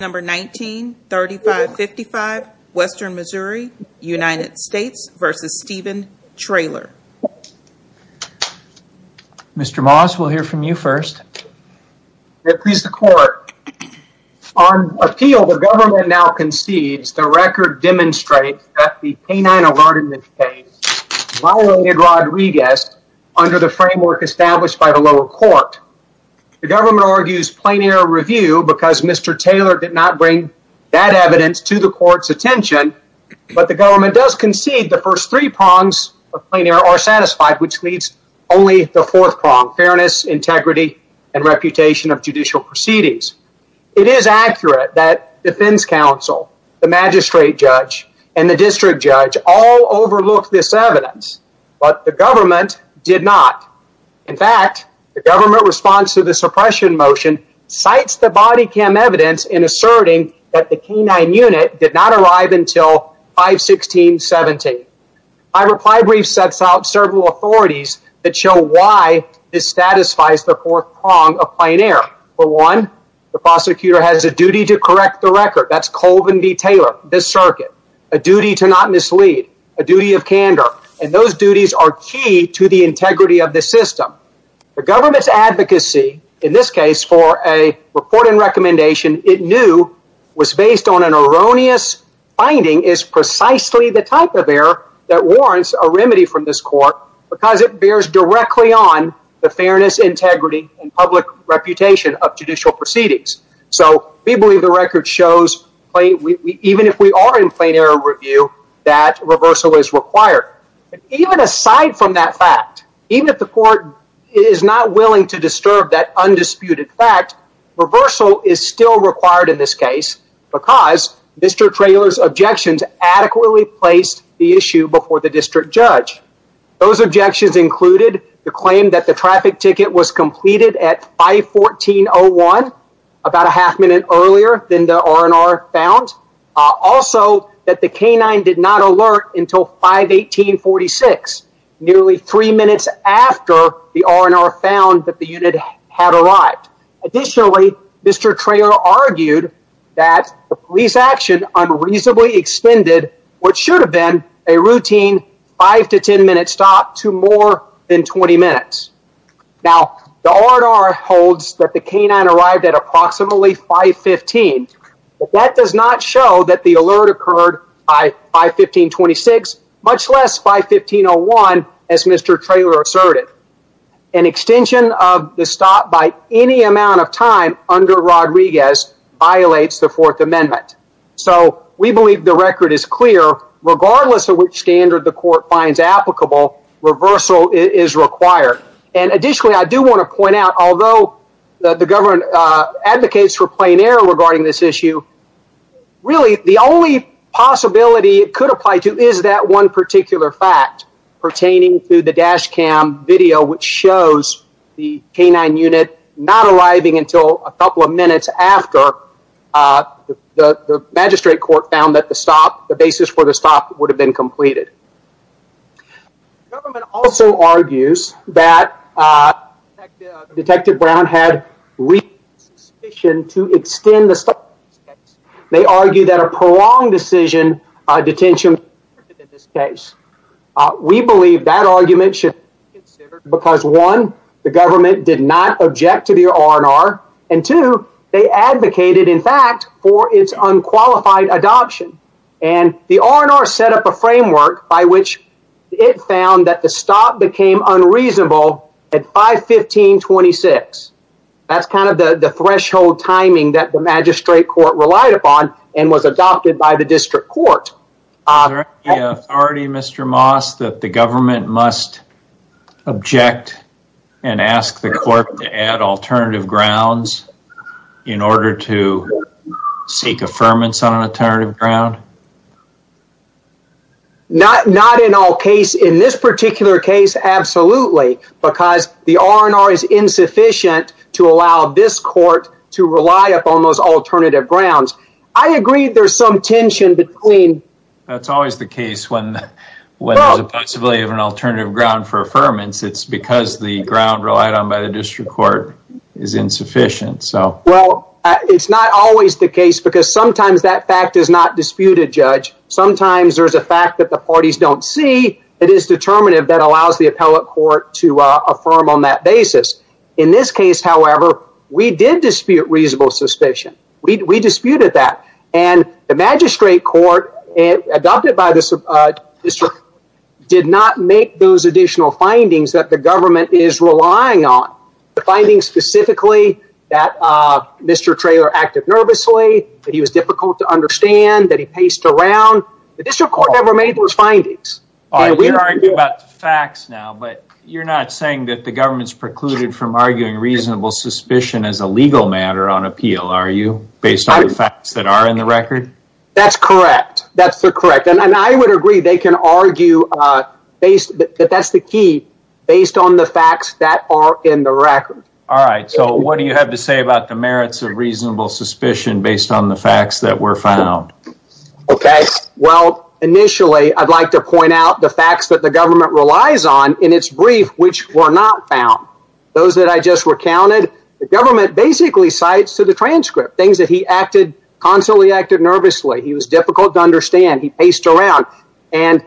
Number 19-3555, Western Missouri, United States v. Steven Traylor. Mr. Moss, we'll hear from you first. Your Honor, please the court. On appeal, the government now concedes the record demonstrates that the canine alert in this case violated Rodriguez under the framework established by the lower court. The government argues plain error review because Mr. Taylor did not bring that evidence to the court's attention, but the government does concede the first three prongs of plain error are satisfied, which leads only to the fourth prong, fairness, integrity, and reputation of judicial proceedings. It is accurate that defense counsel, the magistrate judge, and the district judge all overlooked this evidence, but the government did not. In fact, the government response to the suppression motion cites the body cam evidence in asserting that the canine unit did not arrive until 5-16-17. My reply brief sets out several authorities that show why this satisfies the fourth prong of plain error. For one, the prosecutor has a duty to correct the record. That's Colvin v. Taylor, this circuit. A duty to not mislead. A duty of candor. Those duties are key to the integrity of the system. The government's advocacy in this case for a report and recommendation it knew was based on an erroneous finding is precisely the type of error that warrants a remedy from this court because it bears directly on the fairness, integrity, and public reputation of judicial proceedings. We believe the record shows, even if we are in plain error review, that reversal is required. Even aside from that fact, even if the court is not willing to disturb that undisputed fact, reversal is still required in this case because Mr. Taylor's objections adequately placed the issue before the district judge. Those objections included the claim that the traffic ticket was completed at 5-14-01, about a half minute earlier than the R&R found. Also that the K-9 did not alert until 5-18-46, nearly three minutes after the R&R found that the unit had arrived. Additionally, Mr. Taylor argued that the police action unreasonably extended what should have been a routine 5-10 minute stop to more than 20 minutes. Now the R&R holds that the K-9 arrived at approximately 5-15, but that does not show that the alert occurred by 5-15-26, much less 5-15-01 as Mr. Taylor asserted. An extension of the stop by any amount of time under Rodriguez violates the Fourth Amendment. So we believe the record is clear, regardless of which standard the court finds applicable, reversal is required. And additionally, I do want to point out, although the government advocates for plain error regarding this issue, really the only possibility it could apply to is that one particular fact pertaining to the dash cam video which shows the K-9 unit not arriving until a couple of minutes after the magistrate court found that the basis for the stop would have been completed. The government also argues that Detective Brown had reasonable suspicion to extend the stop in this case. They argue that a prolonged decision on detention would have prevented this case. We believe that argument should be considered because one, the government did not object to the R&R, and two, they advocated, in fact, for its unqualified adoption. And the R&R set up a framework by which it found that the stop became unreasonable at 5-15-26. That's kind of the threshold timing that the magistrate court relied upon and was adopted by the district court. Is there any authority, Mr. Moss, that the government must object and ask the court to add alternative grounds in order to seek affirmance on an alternative ground? Not in all cases. In this particular case, absolutely, because the R&R is insufficient to allow this court to rely upon those alternative grounds. I agree there's some tension between... That's always the case when there's a possibility of an alternative ground for affirmance. It's because the ground relied on by the district court is insufficient. It's not always the case because sometimes that fact is not disputed, Judge. Sometimes there's a fact that the parties don't see that is determinative that allows the appellate court to affirm on that basis. In this case, however, we did dispute reasonable suspicion. We disputed that. The magistrate court adopted by the district court did not make those additional findings that the government is relying on. The findings specifically that Mr. Traylor acted nervously, that he was difficult to understand, that he paced around. The district court never made those findings. You're arguing about the facts now, but you're not saying that the government's precluded from arguing reasonable suspicion as a legal matter on appeal, are you? Based on the facts that are in the record? That's correct. That's correct. And I would agree they can argue that that's the key, based on the facts that are in the record. All right. So what do you have to say about the merits of reasonable suspicion based on the facts that were found? Okay. Well, initially, I'd like to point out the facts that the government relies on in its brief, which were not found. Those that I just recounted, the government basically cites to the transcript things that he acted, constantly acted nervously. He was difficult to understand. He paced around. And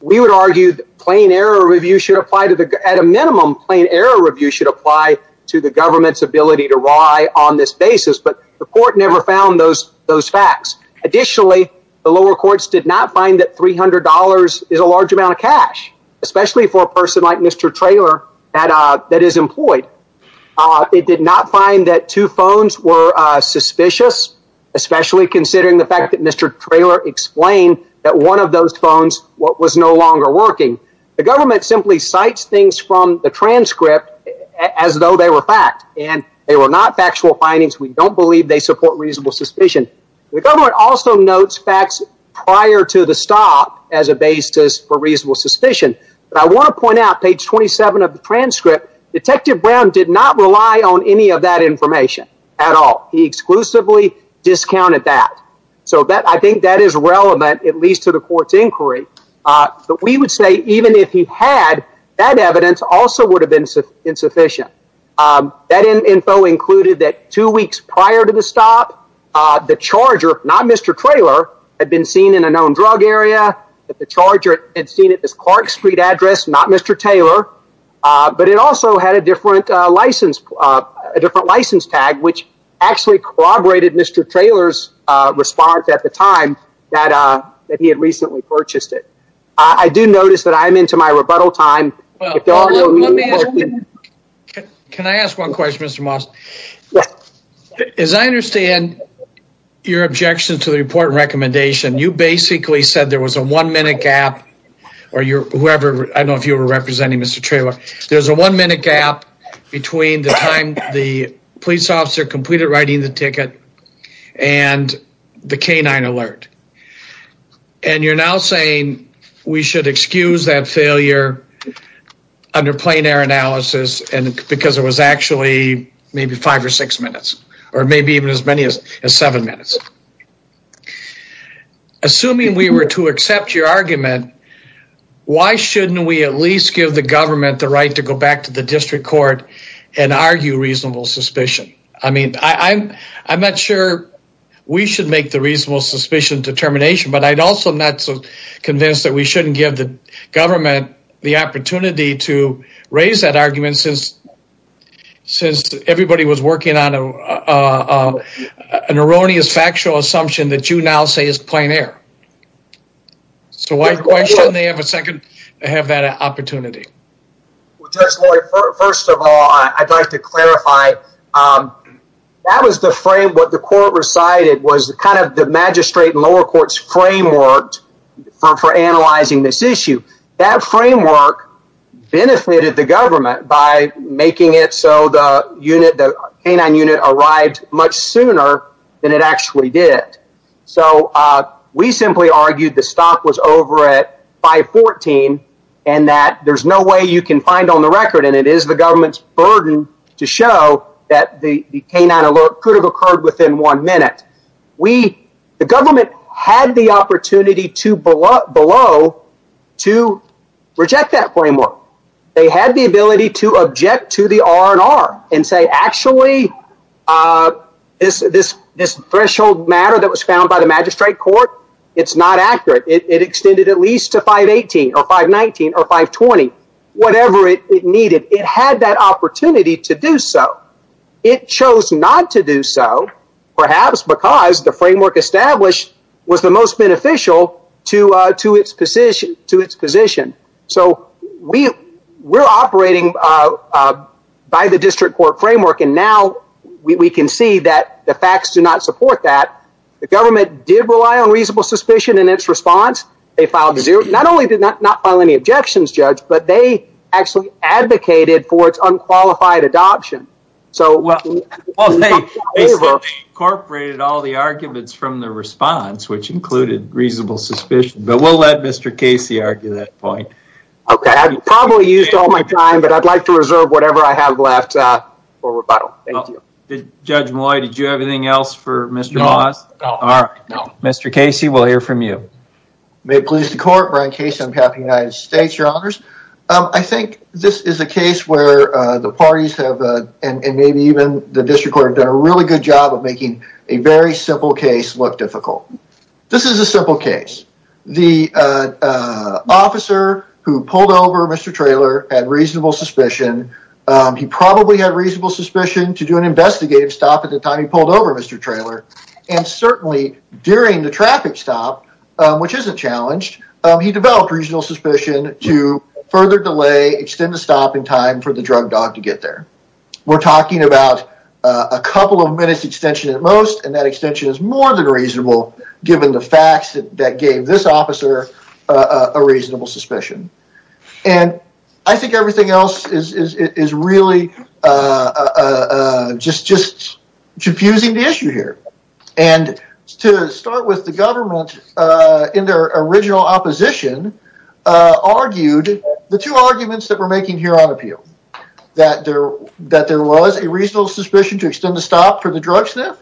we would argue that plain error review should apply to the, at a minimum, plain error review should apply to the government's ability to rye on this basis. But the court never found those facts. Additionally, the lower courts did not find that $300 is a large amount of cash, especially for a person like Mr. Traylor that is employed. It did not find that two phones were suspicious, especially considering the fact that Mr. Traylor explained that one of those phones was no longer working. The government simply cites things from the transcript as though they were fact. And they were not factual findings. We don't believe they support reasonable suspicion. The government also notes facts prior to the stop as a basis for reasonable suspicion. But I want to point out, page 27 of the transcript, Detective Brown did not rely on any of that information at all. He exclusively discounted that. So I think that is relevant, at least to the court's inquiry. But we would say even if he had, that evidence also would have been insufficient. That info included that two weeks prior to the stop, the charger, not Mr. Traylor, had been seen in a known drug area, that the charger had been seen at this Clark Street address, not Mr. Traylor. But it also had a different license tag, which actually corroborated Mr. Traylor's response at the time that he had recently purchased it. I do notice that I'm into my rebuttal time. Can I ask one question, Mr. Moss? Yes. As I understand your objection to the report and recommendation, you basically said there was a one-minute gap, or whoever, I don't know if you were representing Mr. Traylor. There's a one-minute gap between the time the police officer completed writing the ticket and the canine alert. And you're now saying we should excuse that failure under plein air analysis because it was actually maybe five or six minutes, or maybe even as many as seven minutes. Assuming we were to accept your argument, why shouldn't we at least give the government the right to go back to the district court and argue reasonable suspicion? I mean, I'm not sure we should make the reasonable suspicion determination, but I'm also not so convinced that we shouldn't give the government the opportunity to raise that argument since everybody was working on an erroneous factual assumption that you now say is plein air. So why shouldn't they have that opportunity? First of all, I'd like to clarify, what the court recited was kind of the magistrate and lower court's framework for analyzing this issue. That framework benefited the government by making it so the canine unit arrived much sooner than it actually did. So we simply argued the stop was over at 514 and that there's no way you can find on the record, and it is the government's burden to show that the canine alert could have occurred within one minute. We, the government had the opportunity to below to reject that framework. They had the ability to object to the R&R and say, actually, this threshold matter that was found by the magistrate court, it's not accurate. It extended at least to 518 or 519 or 520, whatever it needed. It had that opportunity to do so. It chose not to do so, perhaps because the framework established was the most beneficial to its position. So we're operating by the district court framework, and now we can see that the facts do not support that. The government did rely on reasonable suspicion in its response. They filed not only did not file any objections, judge, but they actually advocated for its unqualified adoption. So well, they incorporated all the arguments from the response, which included reasonable suspicion, but we'll let Mr. Casey argue that point. Okay, I've probably used all my time, but I'd like to reserve whatever I have left for rebuttal. Judge Malloy, did you have anything else for Mr. Maas? All right. Mr. Casey, we'll hear from you. May it please the court, Brian Casey on behalf of the United States, your honors. I think this is a case where the parties have, and maybe even the district court, done a really good job of making a very simple case look difficult. This is a simple case. The officer who pulled over Mr. Traylor had reasonable suspicion. He probably had reasonable suspicion to do an investigative stop at the time he pulled over Mr. Traylor, and certainly during the traffic stop, which isn't challenged, he further delay, extend the stopping time for the drug dog to get there. We're talking about a couple of minutes extension at most, and that extension is more than reasonable, given the facts that gave this officer a reasonable suspicion. And I think everything else is really just confusing the issue here. And to start with, the government, in their original opposition, argued the two arguments that we're making here on appeal, that there was a reasonable suspicion to extend the stop for the drug sniff,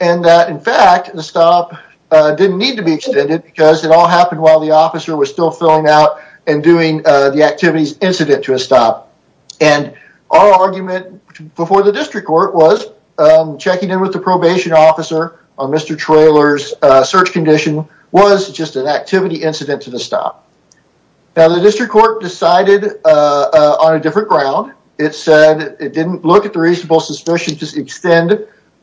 and that in fact, the stop didn't need to be extended because it all happened while the officer was still filling out and doing the activities incident to a stop. And our argument before the district court was checking in with the probation officer on Mr. Traylor's search condition was just an activity incident to the stop. Now, the district court decided on a different ground. It said it didn't look at the reasonable suspicion to extend,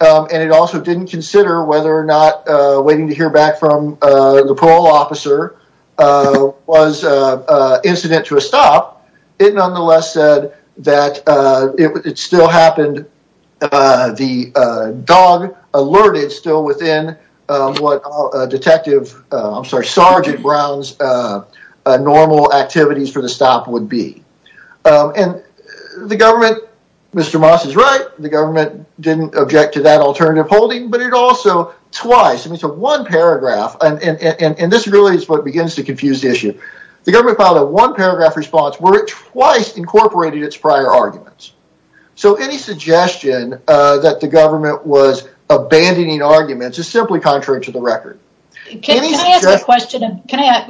and it also didn't consider whether or not waiting to hear back from the parole officer was incident to a stop. It nonetheless said that it still happened, the dog alerted still within what Detective, I'm sorry, Sergeant Brown's normal activities for the stop would be. And the government, Mr. Moss is right, the government didn't object to that alternative holding, but it also, twice, I mean, so one paragraph, and this really is what begins to confuse the issue. The government filed a one paragraph response where it twice incorporated its prior arguments. So any suggestion that the government was abandoning arguments is simply contrary to the record. Can I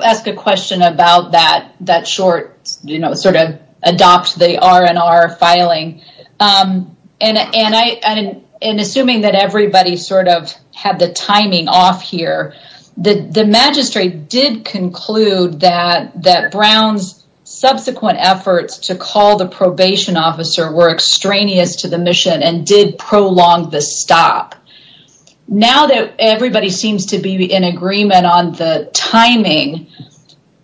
ask a question about that short sort of adopt the R&R filing? And assuming that everybody sort of had the timing off here, the magistrate did conclude that Brown's subsequent efforts to call the probation officer were extraneous to the mission and did prolong the stop. Now that everybody seems to be in agreement on the timing,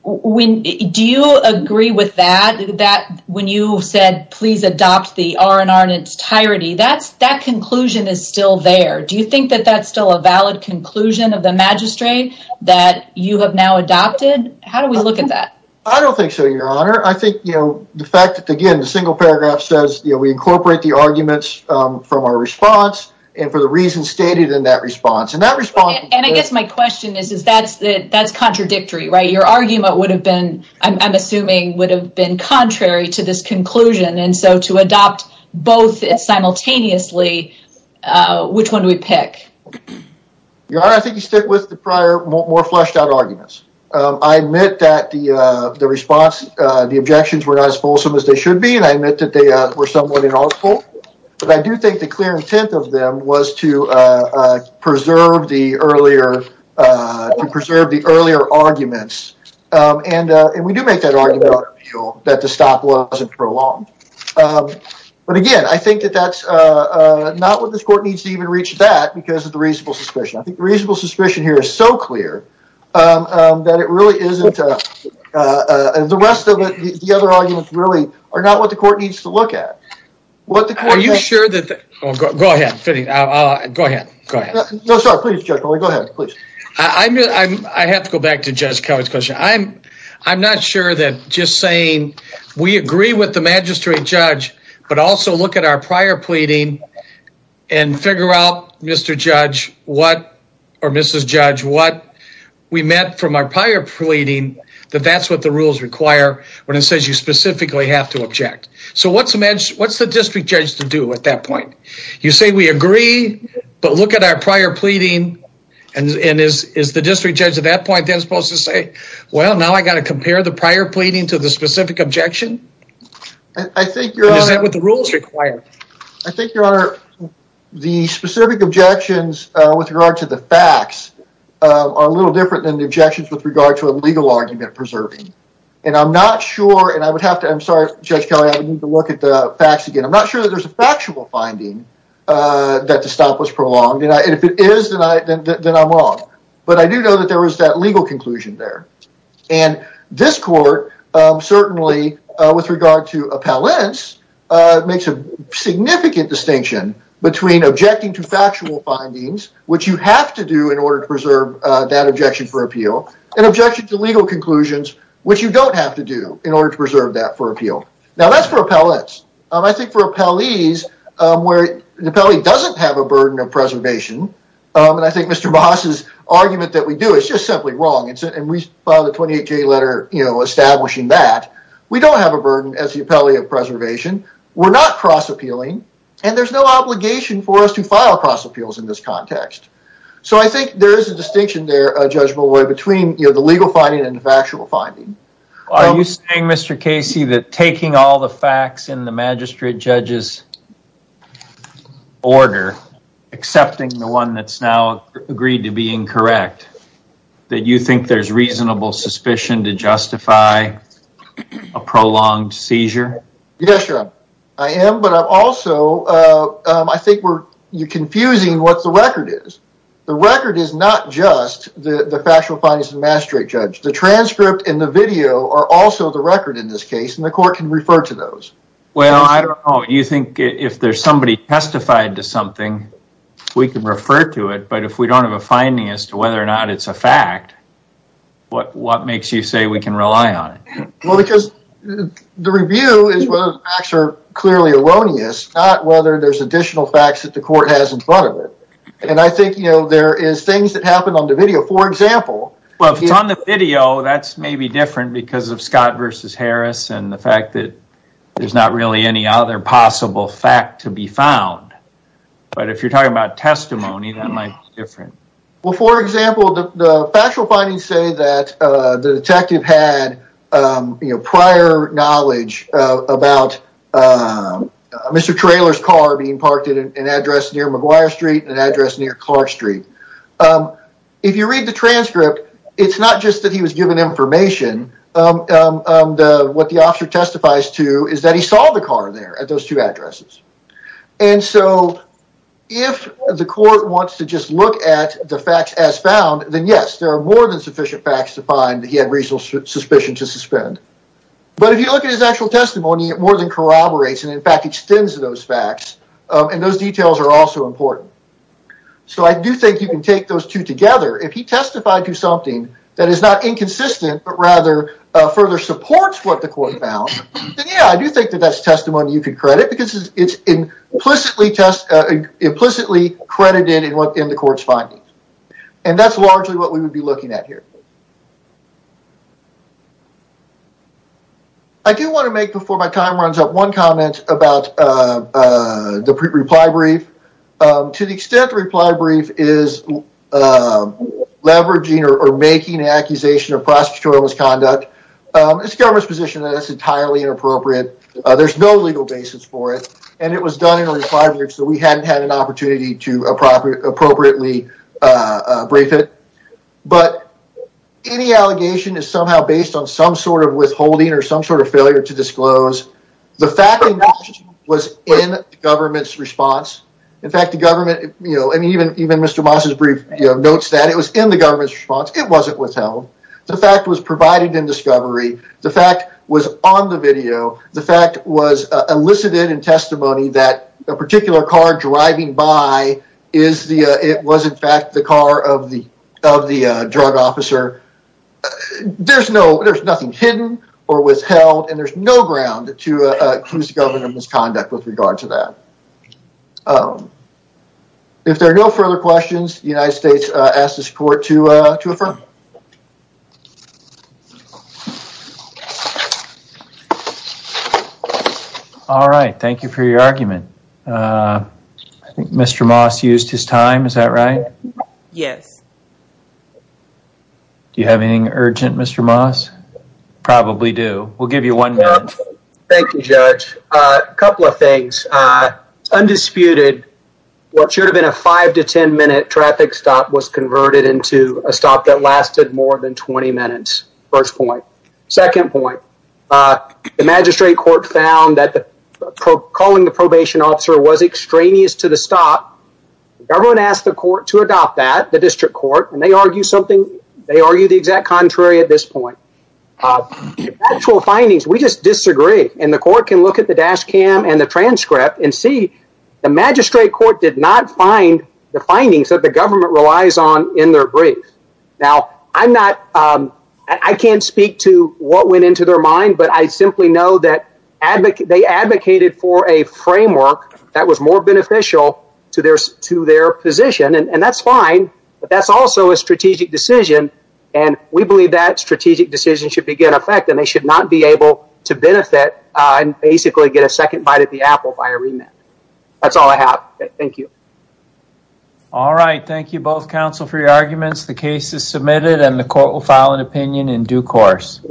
do you agree with that? That when you said, please adopt the R&R in its entirety, that conclusion is still there. Do you think that that's still a valid conclusion of the magistrate that you have now adopted? How do we look at that? I don't think so, Your Honor. I think, you know, the fact that, again, the single paragraph says, you know, we incorporate the arguments from our response and for the reasons stated in that response. And that response. And I guess my question is, is that's contradictory, right? Your argument would have been, I'm assuming, would have been contrary to this conclusion. And so to adopt both simultaneously, which one do we pick? Your Honor, I think you stick with the prior, more fleshed out arguments. I admit that the response, the objections were not as fulsome as they should be. And I admit that they were somewhat inaudible. But I do think the clear intent of them was to preserve the earlier, to preserve the earlier arguments. And we do make that argument that the stop wasn't prolonged. But again, I think that that's not what this court needs to even reach that because of the reasonable suspicion. Reasonable suspicion here is so clear that it really isn't the rest of the other arguments really are not what the court needs to look at. What are you sure that? Go ahead. Go ahead. Go ahead. No, sorry. Please go ahead. Please. I mean, I have to go back to Judge Kelly's question. I'm not sure that just saying we agree with the magistrate judge, but also look at our Mrs. Judge, what we met from our prior pleading, that that's what the rules require when it says you specifically have to object. So what's the district judge to do at that point? You say we agree, but look at our prior pleading. And is the district judge at that point then supposed to say, well, now I got to compare the prior pleading to the specific objection? I think your honor. Is that what the rules require? I think your honor, the specific objections with regard to the facts are a little different than the objections with regard to a legal argument preserving. And I'm not sure. And I would have to. I'm sorry, Judge Kelly. I need to look at the facts again. I'm not sure that there's a factual finding that the stop was prolonged. And if it is, then I'm wrong. But I do know that there was that legal conclusion there. And this court certainly with regard to appellants makes a significant distinction between objecting to factual findings, which you have to do in order to preserve that objection for appeal and objection to legal conclusions, which you don't have to do in order to preserve that for appeal. Now, that's for appellants. I think for appellees where the appellee doesn't have a burden of preservation, and I think Mr. Baas's argument that we do is just simply wrong, and we filed a 28-J letter establishing that, we don't have a burden as the appellee of preservation. We're not cross-appealing. And there's no obligation for us to file cross-appeals in this context. So I think there is a distinction there, Judge Malloy, between the legal finding and the factual finding. Are you saying, Mr. Casey, that taking all the facts in the magistrate judge's order, accepting the one that's now agreed to be incorrect, that you think there's reasonable suspicion to justify a prolonged seizure? Yes, Your Honor. I am, but I'm also, I think you're confusing what the record is. The record is not just the factual findings of the magistrate judge. The transcript and the video are also the record in this case, and the court can refer to those. Well, I don't know. You think if there's somebody testified to something, we can refer to it, but if we don't have a finding as to whether or not it's a fact, what makes you say we can rely on it? Well, because the review is whether the facts are clearly erroneous, not whether there's additional facts that the court has in front of it. And I think, you know, there is things that happened on the video. For example... Well, if it's on the video, that's maybe different because of Scott versus Harris and the fact that there's not really any other possible fact to be found. But if you're talking about testimony, that might be different. Well, for example, the factual findings say that the detective had, you know, prior knowledge about Mr. Traylor's car being parked at an address near McGuire Street and an address near Clark Street. If you read the transcript, it's not just that he was given information. What the officer testifies to is that he saw the car there at those two addresses. And so if the court wants to just look at the facts as found, then yes, there are more than sufficient facts to find that he had reasonable suspicion to suspend. But if you look at his actual testimony, it more than corroborates and, in fact, extends to those facts, and those details are also important. So I do think you can take those two together. If he testified to something that is not inconsistent, but rather further supports what the court found, then yeah, I do think that that's testimony you could credit because it's implicitly credited in the court's findings. And that's largely what we would be looking at here. I do want to make, before my time runs up, one comment about the reply brief. To the extent the reply brief is leveraging or making an accusation of prosecutorial misconduct, it's the government's position that it's entirely inappropriate. There's no legal basis for it, and it was done in a reply brief, so we hadn't had an opportunity to appropriately brief it. But any allegation is somehow based on some sort of withholding or some sort of failure to disclose. The fact was in the government's response. In fact, even Mr. Moss's brief notes that it was in the government's response. It wasn't withheld. The fact was provided in discovery. The fact was on the video. The fact was elicited in testimony that a particular car driving by was, in fact, the car of the drug officer. There's nothing hidden or withheld, and there's no ground to accuse the government of misconduct with regard to that. If there are no further questions, the United States asks this court to affirm. All right. Thank you for your argument. I think Mr. Moss used his time. Is that right? Yes. Do you have anything urgent, Mr. Moss? Probably do. We'll give you one minute. Thank you, Judge. A couple of things. Undisputed, what should have been a five to ten minute traffic stop was converted into a stop that lasted more than 20 minutes. First point. Second point. The magistrate court found that calling the probation officer was extraneous to the stop. The government asked the court to adopt that, the district court, and they argued something at this point. Actual findings, we just disagree, and the court can look at the dash cam and the transcript and see the magistrate court did not find the findings that the government relies on in their brief. I can't speak to what went into their mind, but I simply know that they advocated for a framework that was more beneficial to their position, and that's fine, but that's also a strategic decision, and we believe that strategic decision should be in effect, and they should not be able to benefit and basically get a second bite at the apple by a remand. That's all I have. Thank you. All right. Thank you both, counsel, for your arguments. The case is submitted, and the court will file an opinion in due course.